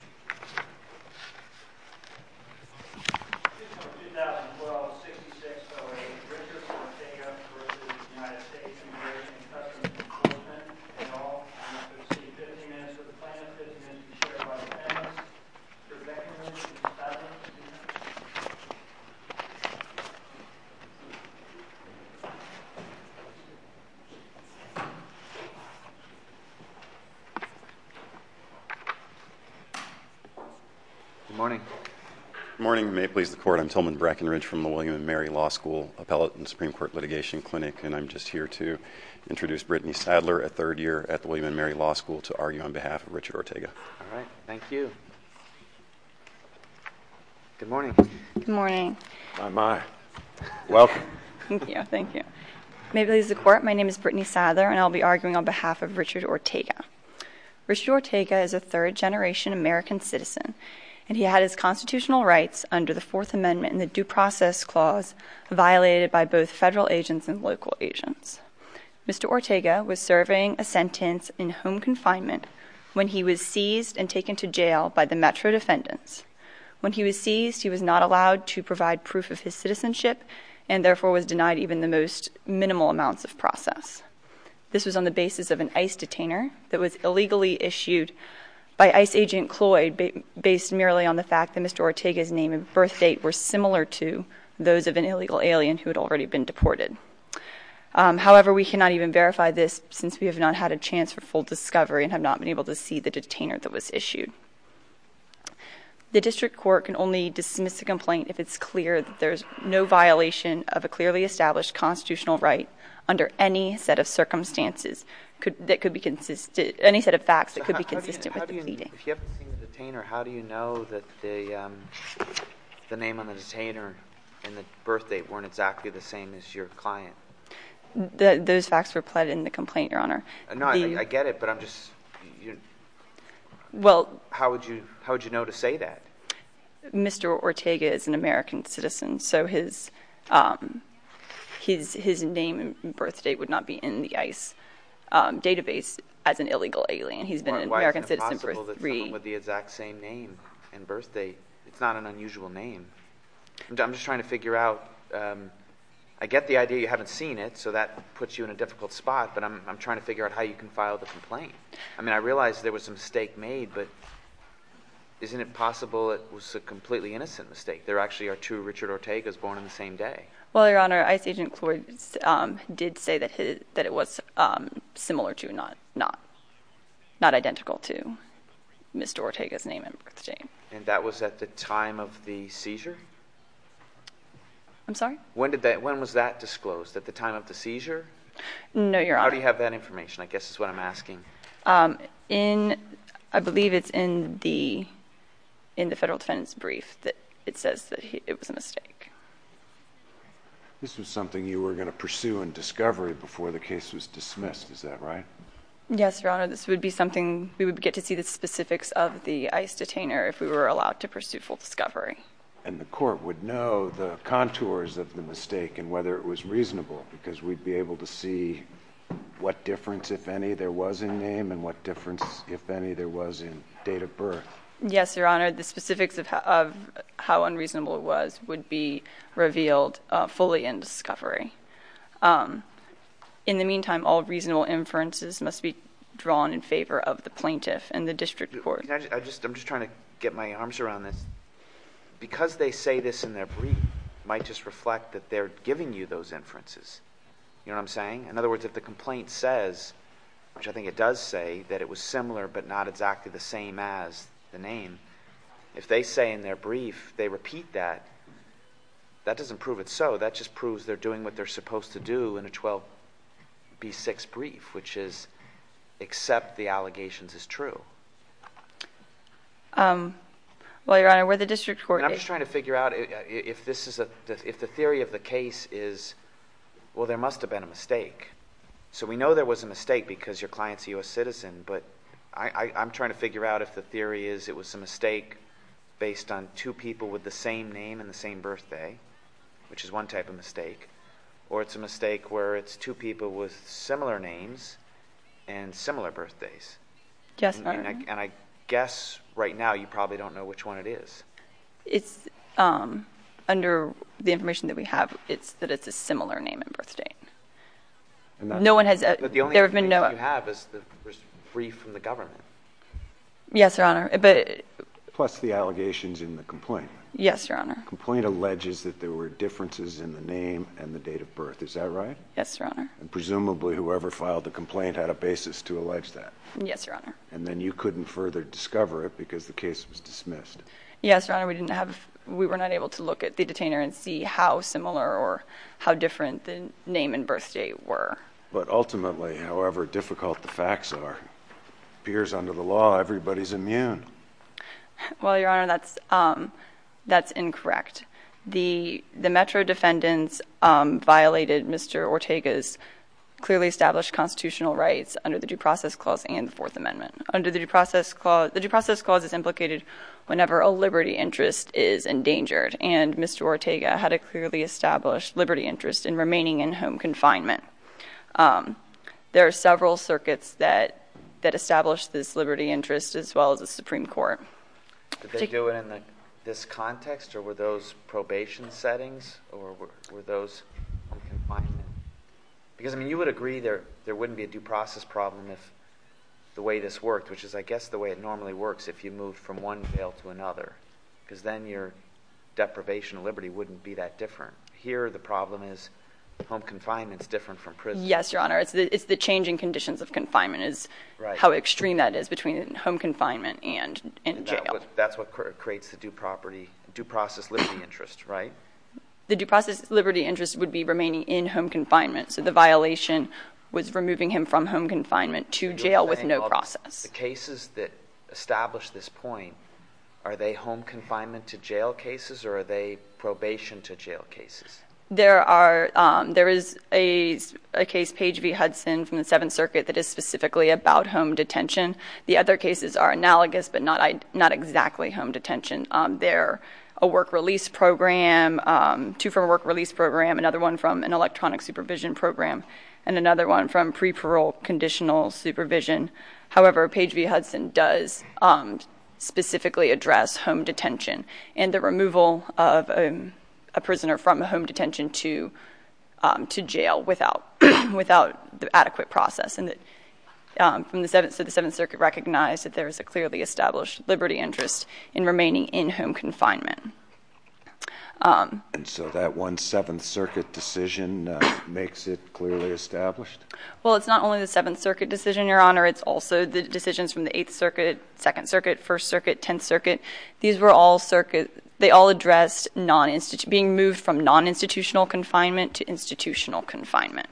and to exceed 15 minutes of the plan, 15 minutes to be shared by the panelists. Good morning. Good morning. May it please the court, I'm Tillman Brackenridge from the William & Mary Law School Appellate and Supreme Court Litigation Clinic and I'm just here to introduce Brittany Sadler, a third year at the William & Mary Law School to argue on behalf of Richard Ortega. All right, thank you. Good morning. Good morning. Welcome. Thank you. May it please the court, my name is Brittany Sadler and I'll be arguing on behalf of Richard Ortega. Richard Ortega is a third generation American citizen and he had his constitutional rights under the Fourth Amendment and the Due Process Clause violated by both federal agents and local agents. Mr. Ortega was serving a sentence in home confinement when he was seized and taken to jail by the metro defendants. When he was seized, he was not allowed to provide proof of his citizenship and therefore was denied even the most minimal amounts of process. This was on the basis of an ICE detainer that was illegally issued by ICE agent Cloyd based merely on the fact that Mr. Ortega's name and birth date were similar to those of an illegal alien who had already been deported. However, we cannot even verify this since we have not had a chance for full discovery and have not been able to see the detainer that was issued. The district court can only dismiss the complaint if it's clear that there's no violation of a clearly established constitutional right under any set of circumstances that could be consistent, any set of facts that could be consistent with the pleading. If you haven't seen the detainer, how do you know that the name on the detainer and the birth date weren't exactly the same as your client? Those facts were pled in the complaint, Your Honor. I get it, but I'm just – how would you know to say that? Mr. Ortega is an American citizen, so his name and birth date would not be in the ICE database as an illegal alien. He's been an American citizen for three – Why isn't it possible that someone with the exact same name and birth date – it's not an unusual name. I'm just trying to figure out – I get the idea you haven't seen it, so that puts you in a difficult spot, but I'm trying to figure out how you can file the complaint. I mean, I realize there was a mistake made, but isn't it possible it was a completely innocent mistake? There actually are two Richard Ortegas born on the same day. Well, Your Honor, ICE agent Cloyd did say that it was similar to, not identical to Mr. Ortega's name and birth date. And that was at the time of the seizure? I'm sorry? When was that disclosed? At the time of the seizure? No, Your Honor. How do you have that information? I guess that's what I'm asking. I believe it's in the Federal Defendant's brief that it says that it was a mistake. This was something you were going to pursue in discovery before the case was dismissed, is that right? Yes, Your Honor. This would be something – we would get to see the specifics of the ICE detainer if we were allowed to pursue full discovery. And the court would know the contours of the mistake and whether it was reasonable, because we'd be able to see what difference, if any, there was in name and what difference, if any, there was in date of birth. Yes, Your Honor. The specifics of how unreasonable it was would be revealed fully in discovery. In the meantime, all reasonable inferences must be drawn in favor of the plaintiff and the district court. I'm just trying to get my arms around this. Because they say this in their brief might just reflect that they're giving you those inferences. You know what I'm saying? In other words, if the complaint says, which I think it does say, that it was similar but not exactly the same as the name, if they say in their brief they repeat that, that doesn't prove it's so. Well, Your Honor, where the district court – And I'm just trying to figure out if the theory of the case is, well, there must have been a mistake. So we know there was a mistake because your client's a U.S. citizen, but I'm trying to figure out if the theory is it was a mistake based on two people with the same name and the same birthday, which is one type of mistake, or it's a mistake where it's two people with similar names and similar birthdays. Yes, Your Honor. And I guess right now you probably don't know which one it is. It's – under the information that we have, it's that it's a similar name and birthday. No one has – there have been no – But the only information you have is the brief from the government. Yes, Your Honor, but – Plus the allegations in the complaint. Yes, Your Honor. The complaint alleges that there were differences in the name and the date of birth. Is that right? Yes, Your Honor. And presumably whoever filed the complaint had a basis to allege that. Yes, Your Honor. And then you couldn't further discover it because the case was dismissed. Yes, Your Honor, we didn't have – we were not able to look at the detainer and see how similar or how different the name and birthday were. But ultimately, however difficult the facts are, it appears under the law everybody's immune. Well, Your Honor, that's – that's incorrect. The Metro defendants violated Mr. Ortega's clearly established constitutional rights under the Due Process Clause and the Fourth Amendment. Under the Due Process Clause – the Due Process Clause is implicated whenever a liberty interest is endangered, and Mr. Ortega had a clearly established liberty interest in remaining in home confinement. There are several circuits that establish this liberty interest as well as the Supreme Court. Did they do it in this context, or were those probation settings, or were those – because, I mean, you would agree there wouldn't be a due process problem if the way this worked, which is, I guess, the way it normally works if you move from one jail to another because then your deprivation of liberty wouldn't be that different. Here the problem is home confinement is different from prison. Yes, Your Honor. It's the changing conditions of confinement is how extreme that is between home confinement and jail. That's what creates the due property – due process liberty interest, right? The due process liberty interest would be remaining in home confinement, so the violation was removing him from home confinement to jail with no process. The cases that establish this point, are they home confinement to jail cases, or are they probation to jail cases? There is a case, Page v. Hudson, from the Seventh Circuit that is specifically about home detention. The other cases are analogous but not exactly home detention. They're a work release program, two from a work release program, another one from an electronic supervision program, and another one from pre-parole conditional supervision. However, Page v. Hudson does specifically address home detention and the removal of a prisoner from home detention to jail without the adequate process. And so the Seventh Circuit recognized that there is a clearly established liberty interest in remaining in home confinement. And so that one Seventh Circuit decision makes it clearly established? Well, it's not only the Seventh Circuit decision, Your Honor. It's also the decisions from the Eighth Circuit, Second Circuit, First Circuit, Tenth Circuit. These were all circuits. They all addressed being moved from non-institutional confinement to institutional confinement.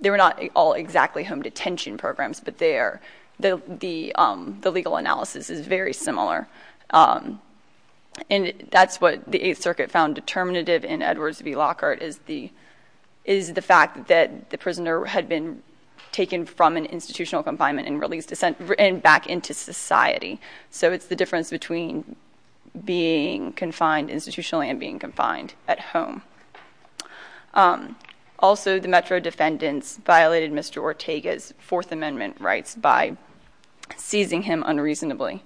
They were not all exactly home detention programs, but the legal analysis is very similar. And that's what the Eighth Circuit found determinative in Edwards v. Lockhart, is the fact that the prisoner had been taken from an institutional confinement and released back into society. So it's the difference between being confined institutionally and being confined at home. Also, the Metro defendants violated Mr. Ortega's Fourth Amendment rights by seizing him unreasonably.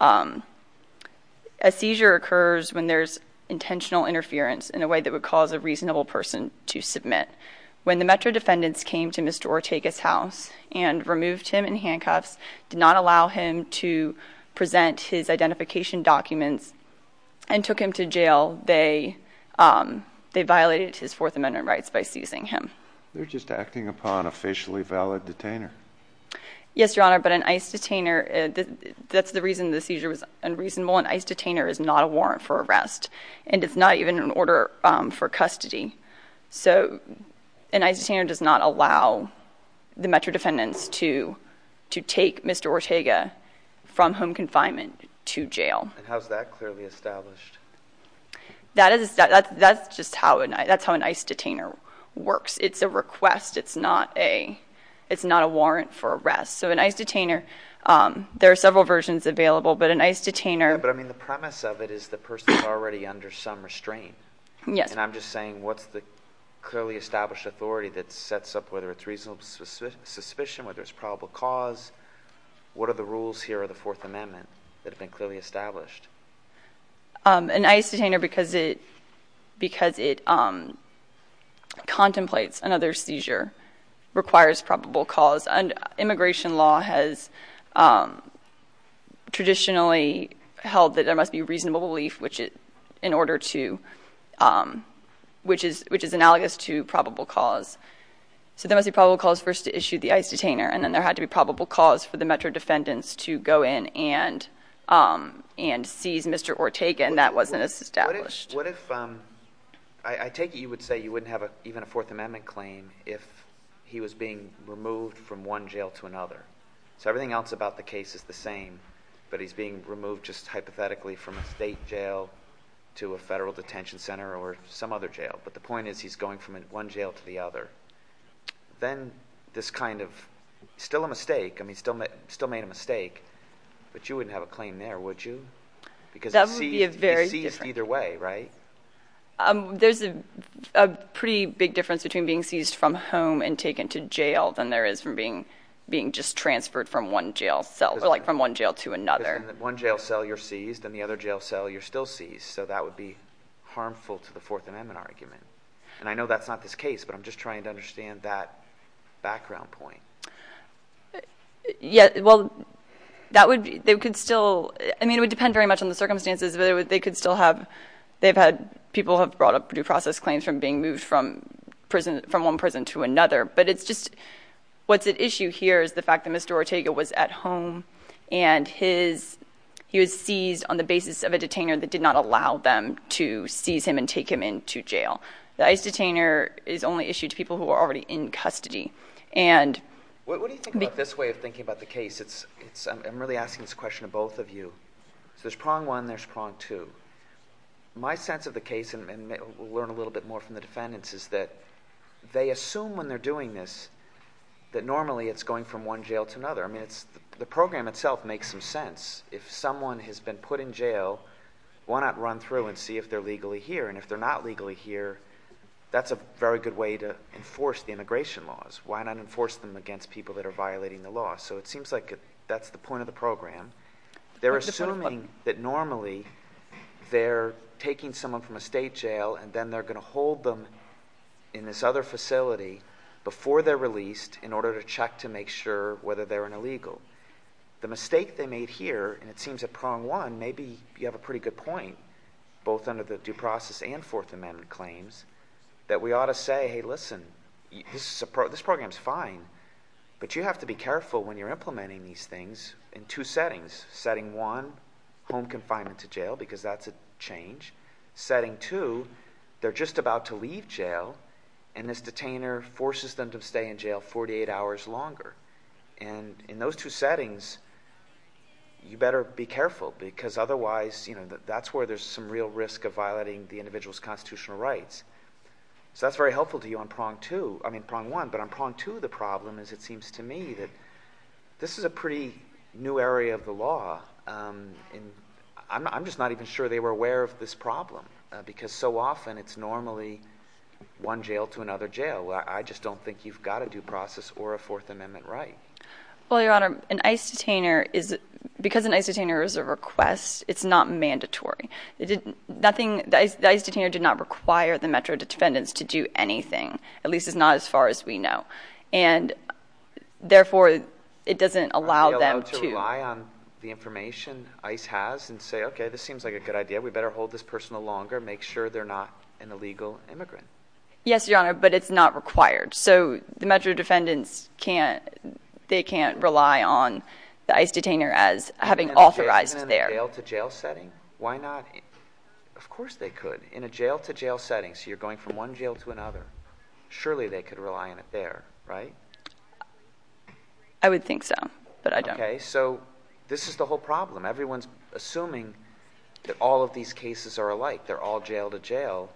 A seizure occurs when there's intentional interference in a way that would cause a reasonable person to submit. When the Metro defendants came to Mr. Ortega's house and removed him in handcuffs, did not allow him to present his identification documents, and took him to jail, they violated his Fourth Amendment rights by seizing him. They're just acting upon a facially valid detainer. Yes, Your Honor, but an ICE detainer, that's the reason the seizure was unreasonable. An ICE detainer is not a warrant for arrest, and it's not even an order for custody. So an ICE detainer does not allow the Metro defendants to take Mr. Ortega from home confinement to jail. And how's that clearly established? That's just how an ICE detainer works. It's a request. It's not a warrant for arrest. So an ICE detainer, there are several versions available, but an ICE detainer... Yeah, but I mean the premise of it is the person's already under some restraint. Yes. And I'm just saying what's the clearly established authority that sets up whether it's reasonable suspicion, whether it's probable cause? What are the rules here of the Fourth Amendment that have been clearly established? An ICE detainer, because it contemplates another seizure, requires probable cause. Immigration law has traditionally held that there must be reasonable belief, which is analogous to probable cause. So there must be probable cause first to issue the ICE detainer, and then there had to be probable cause for the Metro defendants to go in and seize Mr. Ortega, and that wasn't as established. What if I take it you would say you wouldn't have even a Fourth Amendment claim if he was being removed from one jail to another? So everything else about the case is the same, but he's being removed just hypothetically from a state jail to a federal detention center or some other jail, but the point is he's going from one jail to the other. Then this kind of still a mistake, I mean still made a mistake, but you wouldn't have a claim there, would you? That would be very different. Because he's seized either way, right? There's a pretty big difference between being seized from home and taken to jail than there is from being just transferred from one jail to another. Because in one jail cell you're seized and in the other jail cell you're still seized, so that would be harmful to the Fourth Amendment argument. And I know that's not this case, but I'm just trying to understand that background point. Yeah, well, that would still, I mean it would depend very much on the circumstances, but they could still have, people have brought up due process claims from being moved from one prison to another, but it's just what's at issue here is the fact that Mr. Ortega was at home and he was seized on the basis of a detainer that did not allow them to seize him and take him into jail. The ICE detainer is only issued to people who are already in custody. What do you think about this way of thinking about the case? I'm really asking this question to both of you. So there's prong one and there's prong two. My sense of the case, and we'll learn a little bit more from the defendants, is that they assume when they're doing this that normally it's going from one jail to another. The program itself makes some sense. If someone has been put in jail, why not run through and see if they're legally here? And if they're not legally here, that's a very good way to enforce the immigration laws. Why not enforce them against people that are violating the law? So it seems like that's the point of the program. They're assuming that normally they're taking someone from a state jail and then they're going to hold them in this other facility before they're released in order to check to make sure whether they're an illegal. The mistake they made here, and it seems at prong one, maybe you have a pretty good point, both under the due process and Fourth Amendment claims, that we ought to say, hey, listen, this program's fine, but you have to be careful when you're implementing these things in two settings. Setting one, home confinement to jail, because that's a change. Setting two, they're just about to leave jail, and this detainer forces them to stay in jail 48 hours longer. And in those two settings, you better be careful, because otherwise that's where there's some real risk of violating the individual's constitutional rights. So that's very helpful to you on prong one, but on prong two the problem is it seems to me that this is a pretty new area of the law. I'm just not even sure they were aware of this problem, because so often it's normally one jail to another jail. I just don't think you've got a due process or a Fourth Amendment right. Well, Your Honor, because an ICE detainer is a request, it's not mandatory. The ICE detainer did not require the Metro defendants to do anything, at least it's not as far as we know, and therefore it doesn't allow them to... and say, okay, this seems like a good idea. We better hold this person longer, make sure they're not an illegal immigrant. Yes, Your Honor, but it's not required. So the Metro defendants can't rely on the ICE detainer as having authorized their... Even in a jail-to-jail setting? Why not? Of course they could. In a jail-to-jail setting, so you're going from one jail to another, surely they could rely on it there, right? I would think so, but I don't. Okay, so this is the whole problem. Everyone's assuming that all of these cases are alike, they're all jail-to-jail,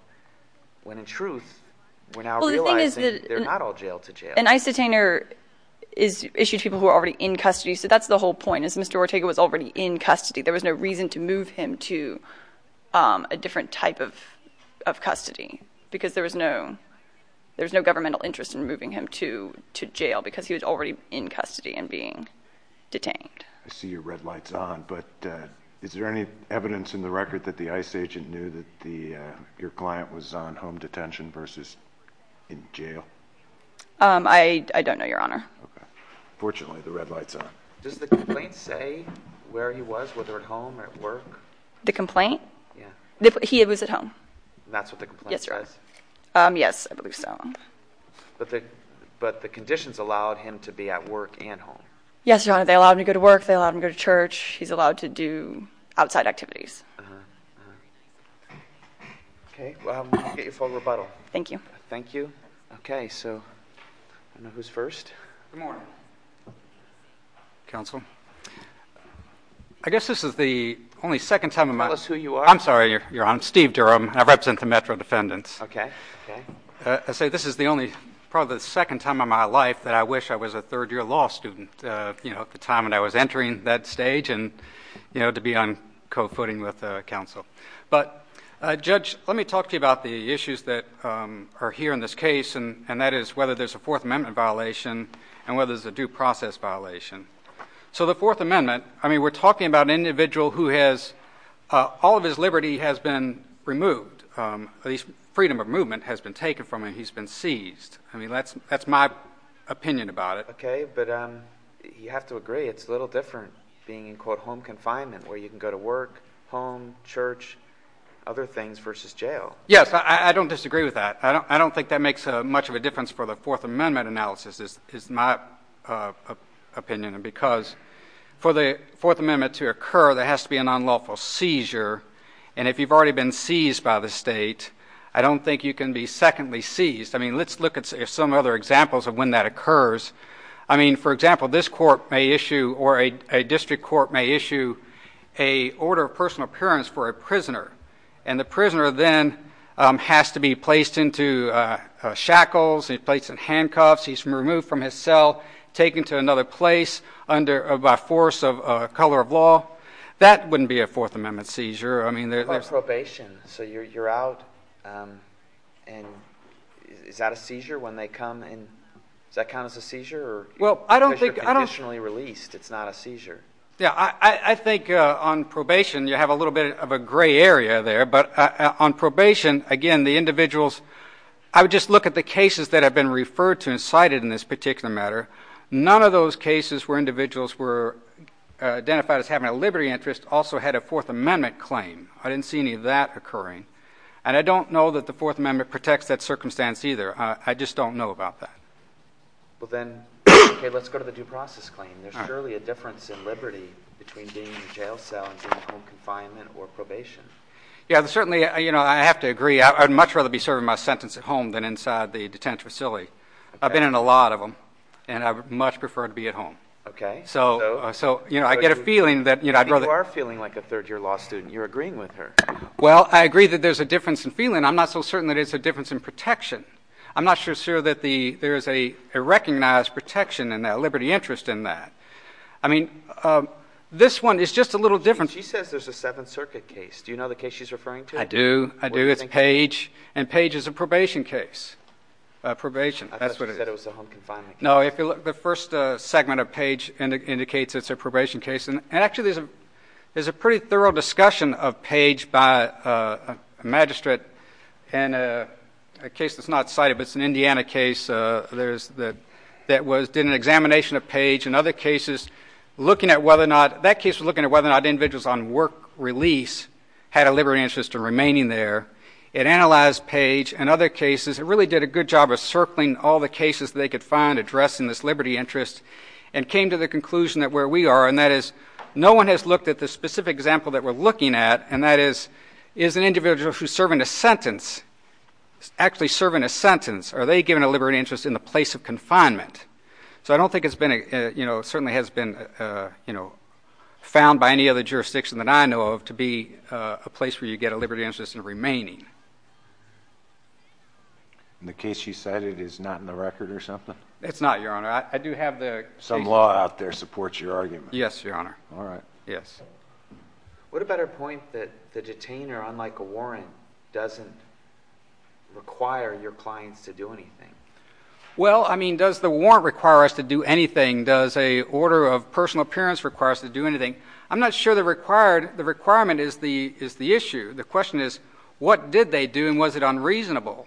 when in truth, we're now realizing they're not all jail-to-jail. An ICE detainer is issued to people who are already in custody, so that's the whole point. As Mr. Ortega was already in custody, there was no reason to move him to a different type of custody because there was no governmental interest in moving him to jail because he was already in custody and being detained. I see your red light's on, but is there any evidence in the record that the ICE agent knew that your client was on home detention versus in jail? I don't know, Your Honor. Okay. Fortunately, the red light's on. Does the complaint say where he was, whether at home or at work? The complaint? Yeah. He was at home. That's what the complaint says? Yes, Your Honor. Yes, I believe so. But the conditions allowed him to be at work and home? Yes, Your Honor. They allowed him to go to work. They allowed him to go to church. He's allowed to do outside activities. Okay. Well, I'm going to get you for rebuttal. Thank you. Thank you. Okay, so I don't know who's first. Good morning, Counsel. I guess this is the only second time in my life. Tell us who you are. I'm sorry, Your Honor. I'm Steve Durham. I represent the Metro Defendants. Okay. I say this is the only, probably the second time in my life that I wish I was a third-year law student, you know, at the time when I was entering that stage and, you know, to be on co-footing with counsel. But, Judge, let me talk to you about the issues that are here in this case, and that is whether there's a Fourth Amendment violation and whether there's a due process violation. So the Fourth Amendment, I mean, we're talking about an individual who has all of his liberty has been removed, at least freedom of movement has been taken from him, he's been seized. I mean, that's my opinion about it. Okay, but you have to agree it's a little different being in, quote, home confinement where you can go to work, home, church, other things versus jail. Yes, I don't disagree with that. I don't think that makes much of a difference for the Fourth Amendment analysis is my opinion because for the Fourth Amendment to occur, there has to be an unlawful seizure, and if you've already been seized by the state, I don't think you can be secondly seized. I mean, let's look at some other examples of when that occurs. I mean, for example, this court may issue or a district court may issue a order of personal appearance for a prisoner, and the prisoner then has to be placed into shackles, placed in handcuffs. He's removed from his cell, taken to another place by force of color of law. Well, that wouldn't be a Fourth Amendment seizure. What about probation? So you're out, and is that a seizure when they come in? Does that count as a seizure because you're conditionally released? It's not a seizure. Yeah, I think on probation you have a little bit of a gray area there, but on probation, again, the individuals – I would just look at the cases that have been referred to and cited in this particular matter. None of those cases where individuals were identified as having a liberty interest also had a Fourth Amendment claim. I didn't see any of that occurring, and I don't know that the Fourth Amendment protects that circumstance either. I just don't know about that. Well, then, okay, let's go to the due process claim. There's surely a difference in liberty between being in a jail cell and being in home confinement or probation. Yeah, certainly, you know, I have to agree. I would much rather be serving my sentence at home than inside the detention facility. I've been in a lot of them, and I would much prefer to be at home. Okay. So, you know, I get a feeling that – You are feeling like a third-year law student. You're agreeing with her. Well, I agree that there's a difference in feeling. I'm not so certain that it's a difference in protection. I'm not so sure that there is a recognized protection and a liberty interest in that. I mean, this one is just a little different. She says there's a Seventh Circuit case. Do you know the case she's referring to? I do. I do. It's Page, and Page is a probation case. I thought you said it was a home confinement case. No, the first segment of Page indicates it's a probation case, and actually there's a pretty thorough discussion of Page by a magistrate in a case that's not cited, but it's an Indiana case that did an examination of Page and other cases looking at whether or not – that case was looking at whether or not individuals on work release had a liberty interest in remaining there. It analyzed Page and other cases. It really did a good job of circling all the cases they could find addressing this liberty interest and came to the conclusion that where we are, and that is no one has looked at the specific example that we're looking at, and that is, is an individual who's serving a sentence, actually serving a sentence, are they given a liberty interest in the place of confinement? So I don't think it's been – you know, it certainly has been, you know, And the case you cited is not in the record or something? It's not, Your Honor. I do have the – Some law out there supports your argument. Yes, Your Honor. All right. Yes. What about our point that the detainer, unlike a warrant, doesn't require your clients to do anything? Well, I mean, does the warrant require us to do anything? Does a order of personal appearance require us to do anything? I'm not sure the requirement is the issue. The question is, what did they do, and was it unreasonable?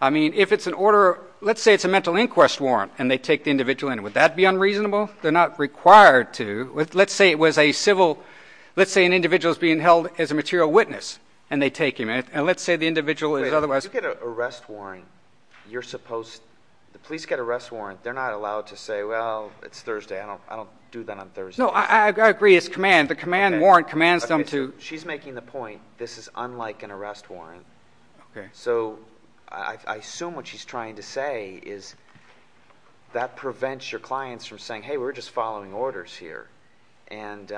I mean, if it's an order – let's say it's a mental inquest warrant, and they take the individual in. Would that be unreasonable? They're not required to. Let's say it was a civil – let's say an individual is being held as a material witness, and they take him. And let's say the individual is otherwise – If you get an arrest warrant, you're supposed – the police get an arrest warrant. They're not allowed to say, well, it's Thursday. I don't do that on Thursday. No, I agree. It's command. The command warrant commands them to – She's making the point this is unlike an arrest warrant. Okay. So I assume what she's trying to say is that prevents your clients from saying, hey, we're just following orders here. And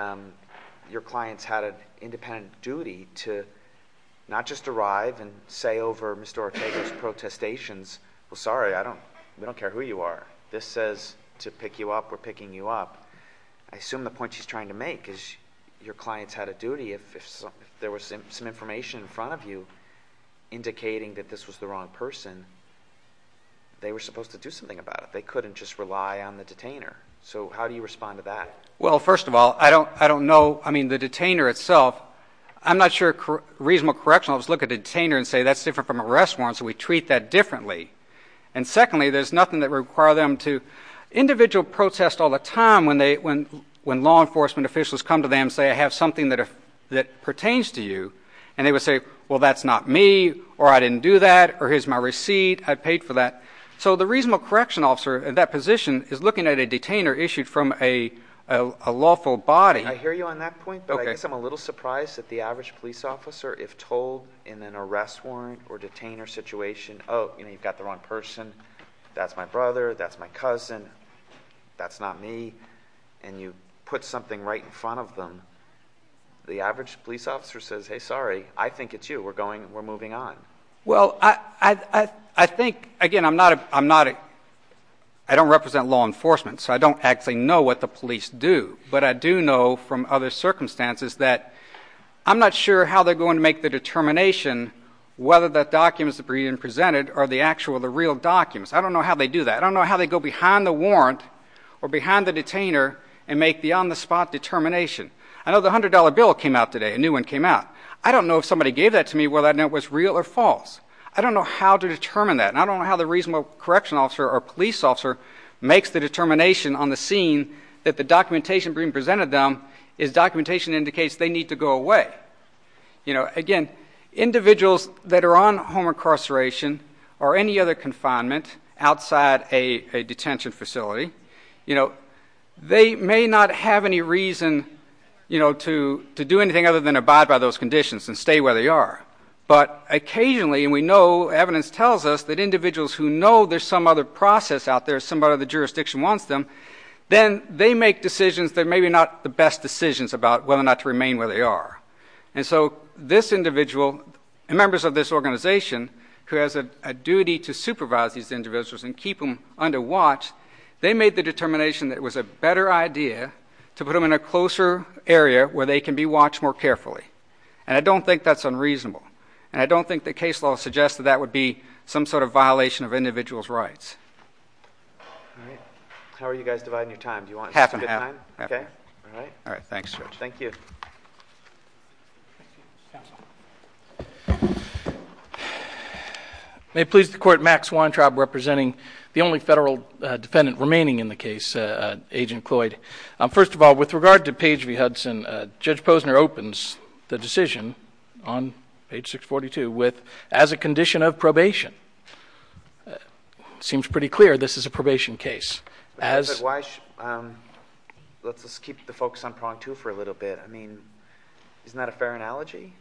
your clients had an independent duty to not just arrive and say over Mr. Ortega's protestations, well, sorry, I don't – we don't care who you are. This says to pick you up. We're picking you up. I assume the point she's trying to make is your clients had a duty. If there was some information in front of you indicating that this was the wrong person, they were supposed to do something about it. They couldn't just rely on the detainer. So how do you respond to that? Well, first of all, I don't know – I mean, the detainer itself, I'm not sure a reasonable correction. I'll just look at a detainer and say that's different from an arrest warrant, so we treat that differently. And secondly, there's nothing that would require them to – individual protest all the time when law enforcement officials come to them and say I have something that pertains to you. And they would say, well, that's not me, or I didn't do that, or here's my receipt. I paid for that. So the reasonable correction officer in that position is looking at a detainer issued from a lawful body. I hear you on that point, but I guess I'm a little surprised that the average police officer, if told in an arrest warrant or detainer situation, oh, you've got the wrong person, that's my brother, that's my cousin, that's not me, and you put something right in front of them, the average police officer says, hey, sorry, I think it's you. We're going – we're moving on. Well, I think – again, I'm not a – I don't represent law enforcement, so I don't actually know what the police do. But I do know from other circumstances that I'm not sure how they're going to make the determination whether the documents that are being presented are the actual, the real documents. I don't know how they do that. I don't know how they go behind the warrant or behind the detainer and make the on-the-spot determination. I know the $100 bill came out today, a new one came out. I don't know if somebody gave that to me, whether or not it was real or false. I don't know how to determine that. And I don't know how the reasonable correctional officer or police officer makes the determination on the scene that the documentation being presented to them is documentation that indicates they need to go away. You know, again, individuals that are on home incarceration or any other confinement outside a detention facility, you know, they may not have any reason, you know, to do anything other than abide by those conditions and stay where they are. But occasionally, and we know, evidence tells us that individuals who know there's some other process out there, somebody in the jurisdiction wants them, then they make decisions that are maybe not the best decisions about whether or not to remain where they are. And so this individual and members of this organization who has a duty to supervise these individuals and keep them under watch, they made the determination that it was a better idea to put them in a closer area where they can be watched more carefully. And I don't think that's unreasonable. And I don't think the case law suggests that that would be some sort of violation of individuals' rights. All right. How are you guys dividing your time? Do you want to spend time? Half and half. Okay. All right. All right. Thanks, Judge. Thank you. May it please the Court, Max Weintraub representing the only federal defendant remaining in the case, Agent Cloyd. First of all, with regard to Page v. Hudson, Judge Posner opens the decision on page 642 as a condition of probation. It seems pretty clear this is a probation case. Let's just keep the focus on prong two for a little bit. I mean, isn't that a fair analogy?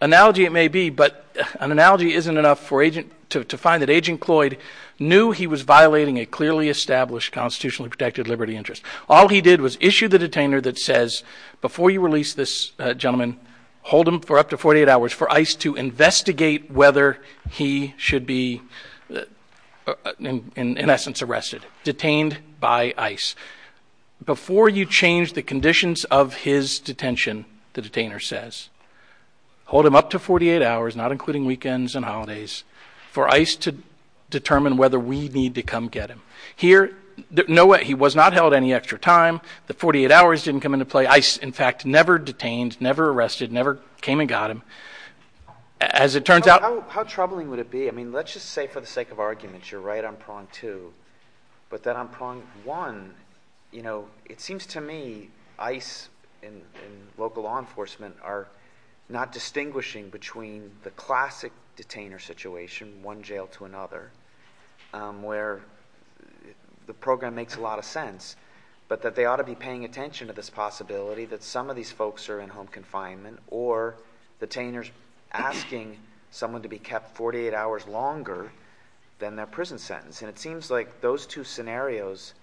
Analogy it may be, but an analogy isn't enough to find that Agent Cloyd knew he was violating a clearly established constitutionally protected liberty interest. All he did was issue the detainer that says, before you release this gentleman, hold him for up to 48 hours for ICE to investigate whether he should be, in essence, arrested, detained by ICE. Before you change the conditions of his detention, the detainer says, hold him up to 48 hours, not including weekends and holidays, for ICE to determine whether we need to come get him. Here, he was not held any extra time. The 48 hours didn't come into play. ICE, in fact, never detained, never arrested, never came and got him. As it turns out — How troubling would it be? I mean, let's just say for the sake of argument, you're right on prong two. But then on prong one, you know, it seems to me ICE and local law enforcement are not distinguishing between the classic detainer situation, one jail to another, where the program makes a lot of sense, but that they ought to be paying attention to this possibility that some of these folks are in home confinement or detainers asking someone to be kept 48 hours longer than their prison sentence. And it seems like those two scenarios,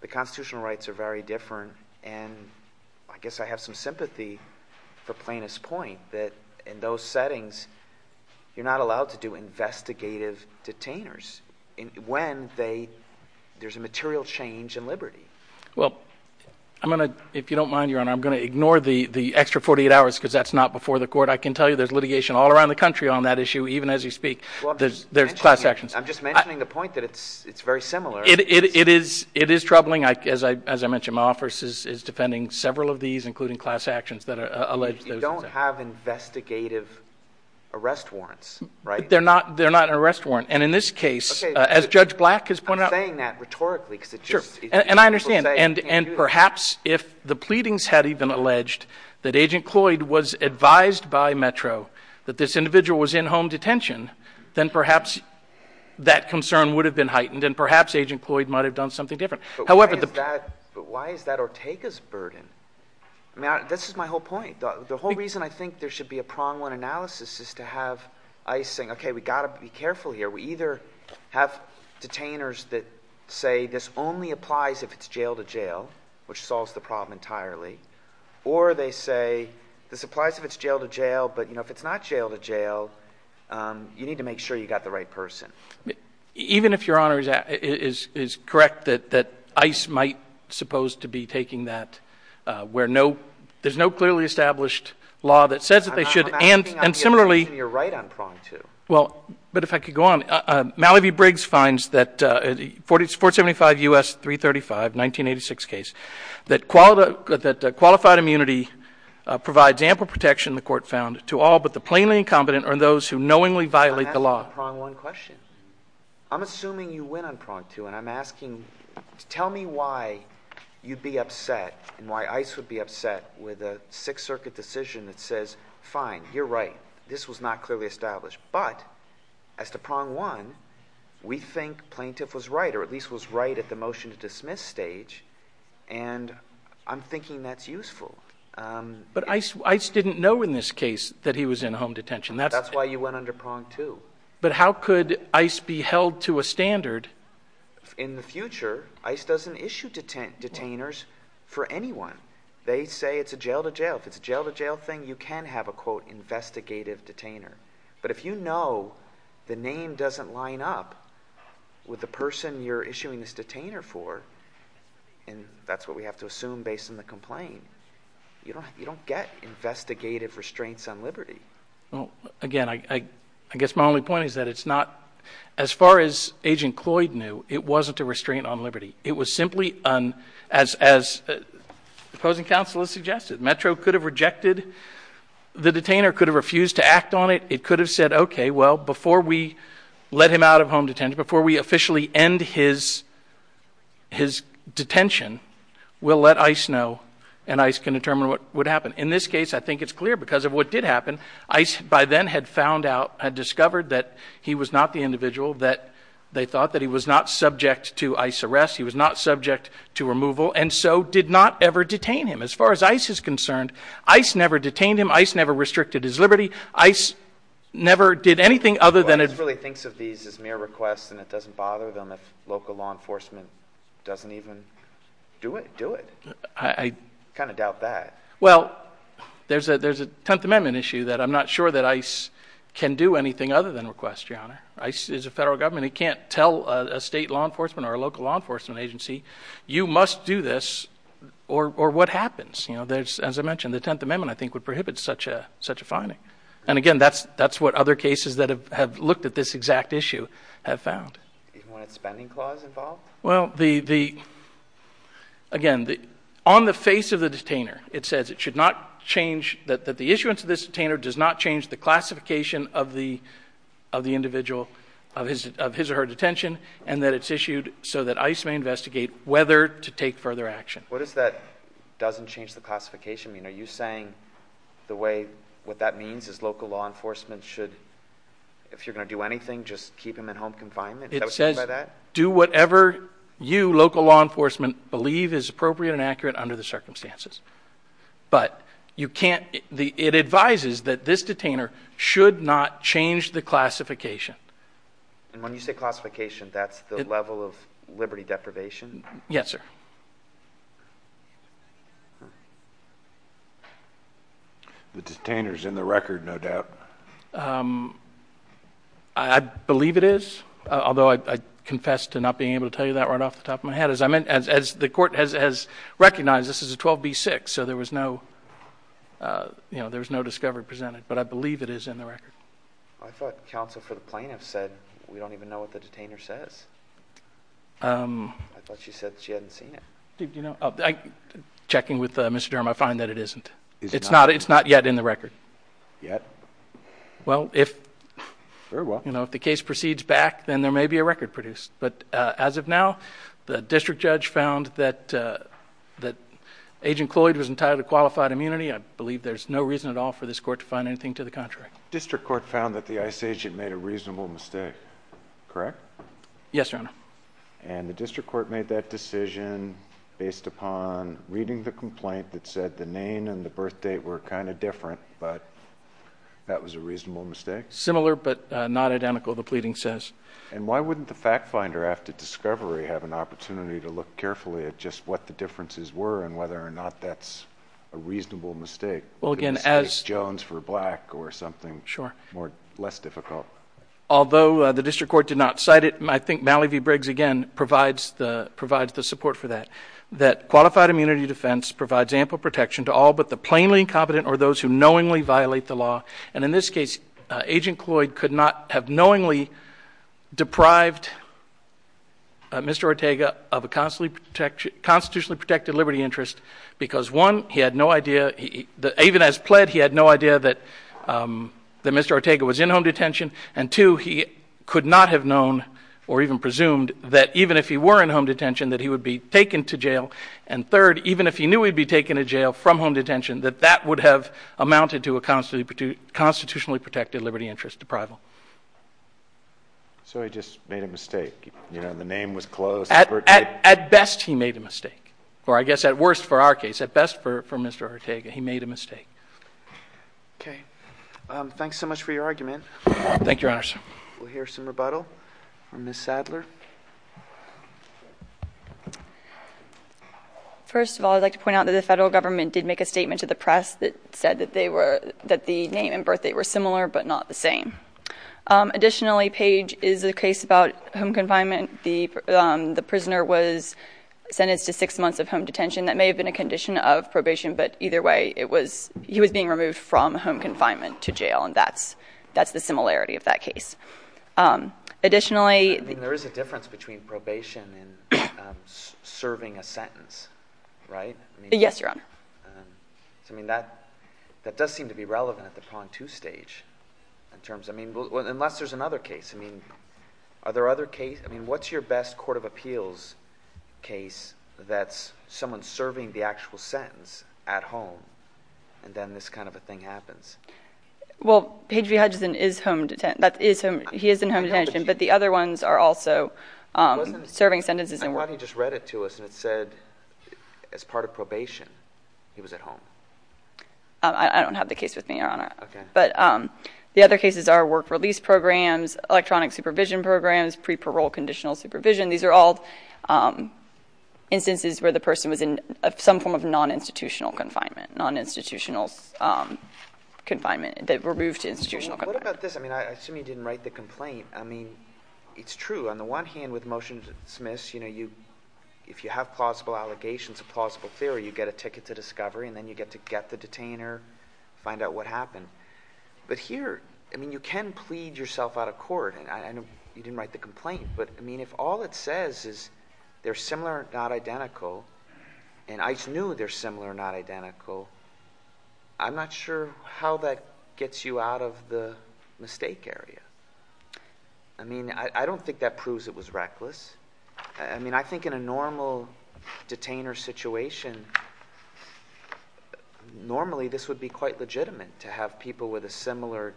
the constitutional rights are very different, and I guess I have some sympathy for Plaintiff's point that in those settings, you're not allowed to do investigative detainers when there's a material change in liberty. Well, if you don't mind, Your Honor, I'm going to ignore the extra 48 hours because that's not before the court. I can tell you there's litigation all around the country on that issue, even as you speak. There's class actions. I'm just mentioning the point that it's very similar. It is troubling. As I mentioned, my office is defending several of these, including class actions that allege those. But you don't have investigative arrest warrants, right? They're not an arrest warrant. And in this case, as Judge Black has pointed out— I'm saying that rhetorically because it's just— Sure, and I understand. And perhaps if the pleadings had even alleged that Agent Cloyd was advised by Metro that this individual was in home detention, then perhaps that concern would have been heightened, and perhaps Agent Cloyd might have done something different. But why is that Ortega's burden? I mean, this is my whole point. The whole reason I think there should be a prong-one analysis is to have ICE saying, okay, we've got to be careful here. We either have detainers that say this only applies if it's jail-to-jail, which solves the problem entirely, or they say this applies if it's jail-to-jail, but if it's not jail-to-jail, you need to make sure you've got the right person. Even if Your Honor is correct that ICE might suppose to be taking that where there's no clearly established law that says that they should— I'm asking on the assumption you're right on prong-two. Well, but if I could go on. Mallee v. Briggs finds that 475 U.S. 335, 1986 case, that qualified immunity provides ample protection, the Court found, to all but the plainly incompetent or those who knowingly violate the law. I'm asking on prong-one question. I'm assuming you win on prong-two, and I'm asking to tell me why you'd be upset and why ICE would be upset with a Sixth Circuit decision that says, fine, you're right. This was not clearly established. But as to prong-one, we think plaintiff was right, or at least was right at the motion-to-dismiss stage, and I'm thinking that's useful. But ICE didn't know in this case that he was in home detention. That's why you went under prong-two. But how could ICE be held to a standard? In the future, ICE doesn't issue detainers for anyone. They say it's a jail-to-jail. If it's a jail-to-jail thing, you can have a, quote, investigative detainer. But if you know the name doesn't line up with the person you're issuing this detainer for, and that's what we have to assume based on the complaint, again, I guess my only point is that it's not, as far as Agent Cloyd knew, it wasn't a restraint on liberty. It was simply, as opposing counsel has suggested, Metro could have rejected the detainer, could have refused to act on it. It could have said, okay, well, before we let him out of home detention, before we officially end his detention, we'll let ICE know, and ICE can determine what would happen. In this case, I think it's clear because of what did happen. ICE, by then, had found out, had discovered that he was not the individual that they thought, that he was not subject to ICE arrest, he was not subject to removal, and so did not ever detain him. As far as ICE is concerned, ICE never detained him. ICE never restricted his liberty. ICE never did anything other than— Well, ICE really thinks of these as mere requests, and it doesn't bother them if local law enforcement doesn't even do it. I kind of doubt that. Well, there's a Tenth Amendment issue that I'm not sure that ICE can do anything other than request, Your Honor. ICE is a federal government. It can't tell a state law enforcement or a local law enforcement agency, you must do this, or what happens? As I mentioned, the Tenth Amendment, I think, would prohibit such a finding. And again, that's what other cases that have looked at this exact issue have found. Do you want a spending clause involved? Well, again, on the face of the detainer, it says it should not change—that the issuance of this detainer does not change the classification of the individual of his or her detention, and that it's issued so that ICE may investigate whether to take further action. What does that doesn't change the classification mean? Are you saying the way—what that means is local law enforcement should, if you're going to do anything, just keep him in home confinement? Is that what you mean by that? Do whatever you, local law enforcement, believe is appropriate and accurate under the circumstances. But you can't—it advises that this detainer should not change the classification. And when you say classification, that's the level of liberty deprivation? Yes, sir. The detainer's in the record, no doubt. I believe it is, although I confess to not being able to tell you that right off the top of my head. As the court has recognized, this is a 12B6, so there was no discovery presented. But I believe it is in the record. I thought counsel for the plaintiff said, we don't even know what the detainer says. I thought she said she hadn't seen it. Checking with Mr. Durham, I find that it isn't. It's not yet in the record. Yet? Well, if the case proceeds back, then there may be a record produced. But as of now, the district judge found that Agent Cloyd was entitled to qualified immunity. I believe there's no reason at all for this court to find anything to the contrary. The district court found that the ICE agent made a reasonable mistake, correct? Yes, Your Honor. And the district court made that decision based upon reading the complaint that said the name and the birth date were kind of different. But that was a reasonable mistake? Similar, but not identical, the pleading says. And why wouldn't the fact finder after discovery have an opportunity to look carefully at just what the differences were and whether or not that's a reasonable mistake? Well, again, as — Jones for black or something less difficult. Although the district court did not cite it, I think Mallee v. Briggs, again, provides the support for that. That qualified immunity defense provides ample protection to all but the plainly incompetent or those who knowingly violate the law. And in this case, Agent Cloyd could not have knowingly deprived Mr. Ortega of a constitutionally protected liberty interest because, one, he had no idea, even as pled, he had no idea that Mr. Ortega was in home detention. And, two, he could not have known or even presumed that even if he were in home detention that he would be taken to jail. And, third, even if he knew he'd be taken to jail from home detention, that that would have amounted to a constitutionally protected liberty interest deprival. So he just made a mistake. You know, the name was close. At best, he made a mistake. Or I guess at worst for our case, at best for Mr. Ortega, he made a mistake. Okay. Thanks so much for your argument. Thank you, Your Honor. We'll hear some rebuttal from Ms. Sadler. First of all, I'd like to point out that the federal government did make a statement to the press that said that they were, that the name and birth date were similar but not the same. Additionally, Page, is a case about home confinement. The prisoner was sentenced to six months of home detention. That may have been a condition of probation, but either way, it was, he was being removed from home confinement to jail, and that's, that's the similarity of that case. Additionally, I mean, there is a difference between probation and serving a sentence, right? Yes, Your Honor. I mean, that, that does seem to be relevant at the Pond 2 stage in terms, I mean, unless there's another case. I mean, are there other cases? I mean, what's your best court of appeals case that's someone serving the actual sentence at home, and then this kind of a thing happens? Well, Page V. Hudson is home, he is in home detention, but the other ones are also serving sentences. I thought he just read it to us, and it said, as part of probation, he was at home. I don't have the case with me, Your Honor. Okay. But the other cases are work release programs, electronic supervision programs, pre-parole conditional supervision. These are all instances where the person was in some form of non-institutional confinement, non-institutional confinement, that were moved to institutional confinement. Well, what about this? I mean, I assume you didn't write the complaint. I mean, it's true. On the one hand, with motion to dismiss, you know, you, if you have plausible allegations of plausible theory, you get a ticket to discovery, and then you get to get the detainer, find out what happened. But here, I mean, you can plead yourself out of court, and I know you didn't write the complaint. But, I mean, if all it says is they're similar, not identical, and I just knew they're similar, not identical, I'm not sure how that gets you out of the mistake area. I mean, I don't think that proves it was reckless. I mean, I think in a normal detainer situation, normally this would be quite legitimate to have people with a similar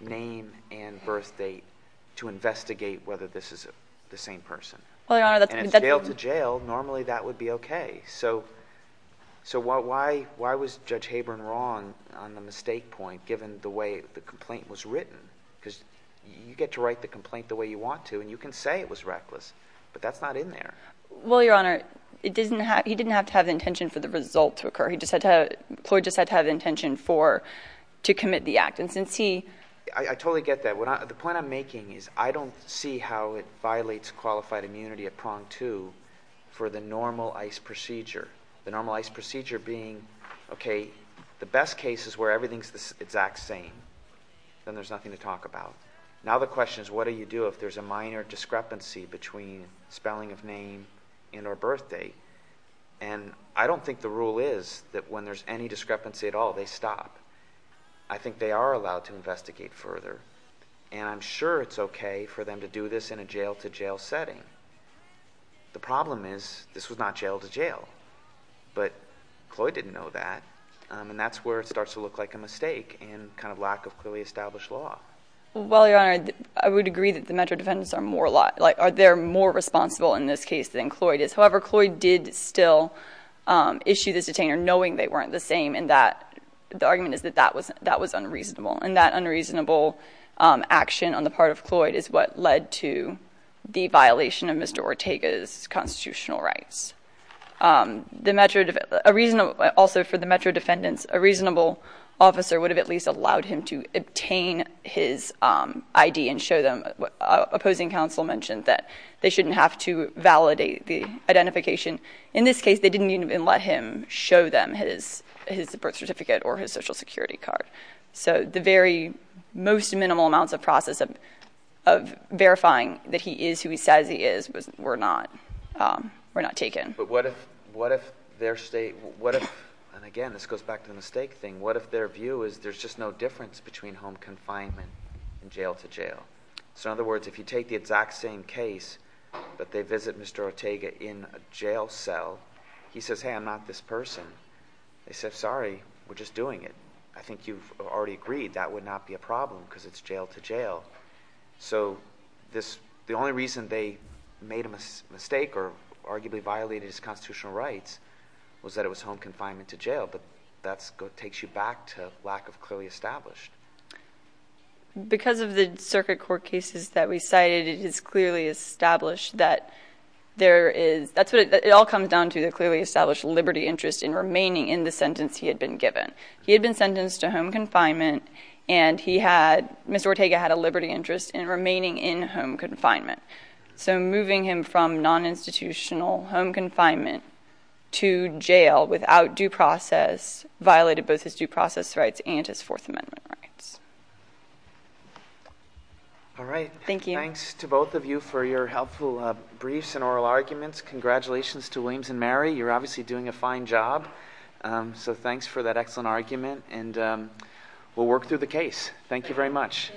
name and birth date to investigate whether this is the same person. Well, Your Honor, that's been said before. And it's jail to jail. Normally that would be okay. So why was Judge Habern wrong on the mistake point, given the way the complaint was written? Because you get to write the complaint the way you want to, and you can say it was reckless, but that's not in there. Well, Your Honor, he didn't have to have the intention for the result to occur. He just had to – Cloyd just had to have the intention for – to commit the act. I totally get that. The point I'm making is I don't see how it violates qualified immunity at prong two for the normal ICE procedure, the normal ICE procedure being, okay, the best case is where everything is the exact same. Then there's nothing to talk about. Now the question is what do you do if there's a minor discrepancy between spelling of name and or birth date? And I don't think the rule is that when there's any discrepancy at all, they stop. I think they are allowed to investigate further, and I'm sure it's okay for them to do this in a jail-to-jail setting. The problem is this was not jail-to-jail, but Cloyd didn't know that, and that's where it starts to look like a mistake and kind of lack of clearly established law. Well, Your Honor, I would agree that the Metro defendants are more – they're more responsible in this case than Cloyd is. However, Cloyd did still issue this detainer knowing they weren't the same, and the argument is that that was unreasonable, and that unreasonable action on the part of Cloyd is what led to the violation of Mr. Ortega's constitutional rights. Also for the Metro defendants, a reasonable officer would have at least allowed him to obtain his ID and show them. Opposing counsel mentioned that they shouldn't have to validate the identification. In this case, they didn't even let him show them his birth certificate or his Social Security card. So the very most minimal amounts of process of verifying that he is who he says he is were not taken. But what if their – and again, this goes back to the mistake thing. What if their view is there's just no difference between home confinement and jail-to-jail? So in other words, if you take the exact same case, but they visit Mr. Ortega in a jail cell, he says, hey, I'm not this person. They said, sorry, we're just doing it. I think you've already agreed that would not be a problem because it's jail-to-jail. So the only reason they made a mistake or arguably violated his constitutional rights was that it was home confinement-to-jail, but that takes you back to lack of clearly established. Because of the circuit court cases that we cited, it is clearly established that there is – it all comes down to the clearly established liberty interest in remaining in the sentence he had been given. He had been sentenced to home confinement, and he had – Mr. Ortega had a liberty interest in remaining in home confinement. So moving him from non-institutional home confinement to jail without due process violated both his due process rights and his Fourth Amendment rights. All right. Thank you. Thanks to both of you for your helpful briefs and oral arguments. Congratulations to Williams and Mary. You're obviously doing a fine job. So thanks for that excellent argument, and we'll work through the case. Thank you very much.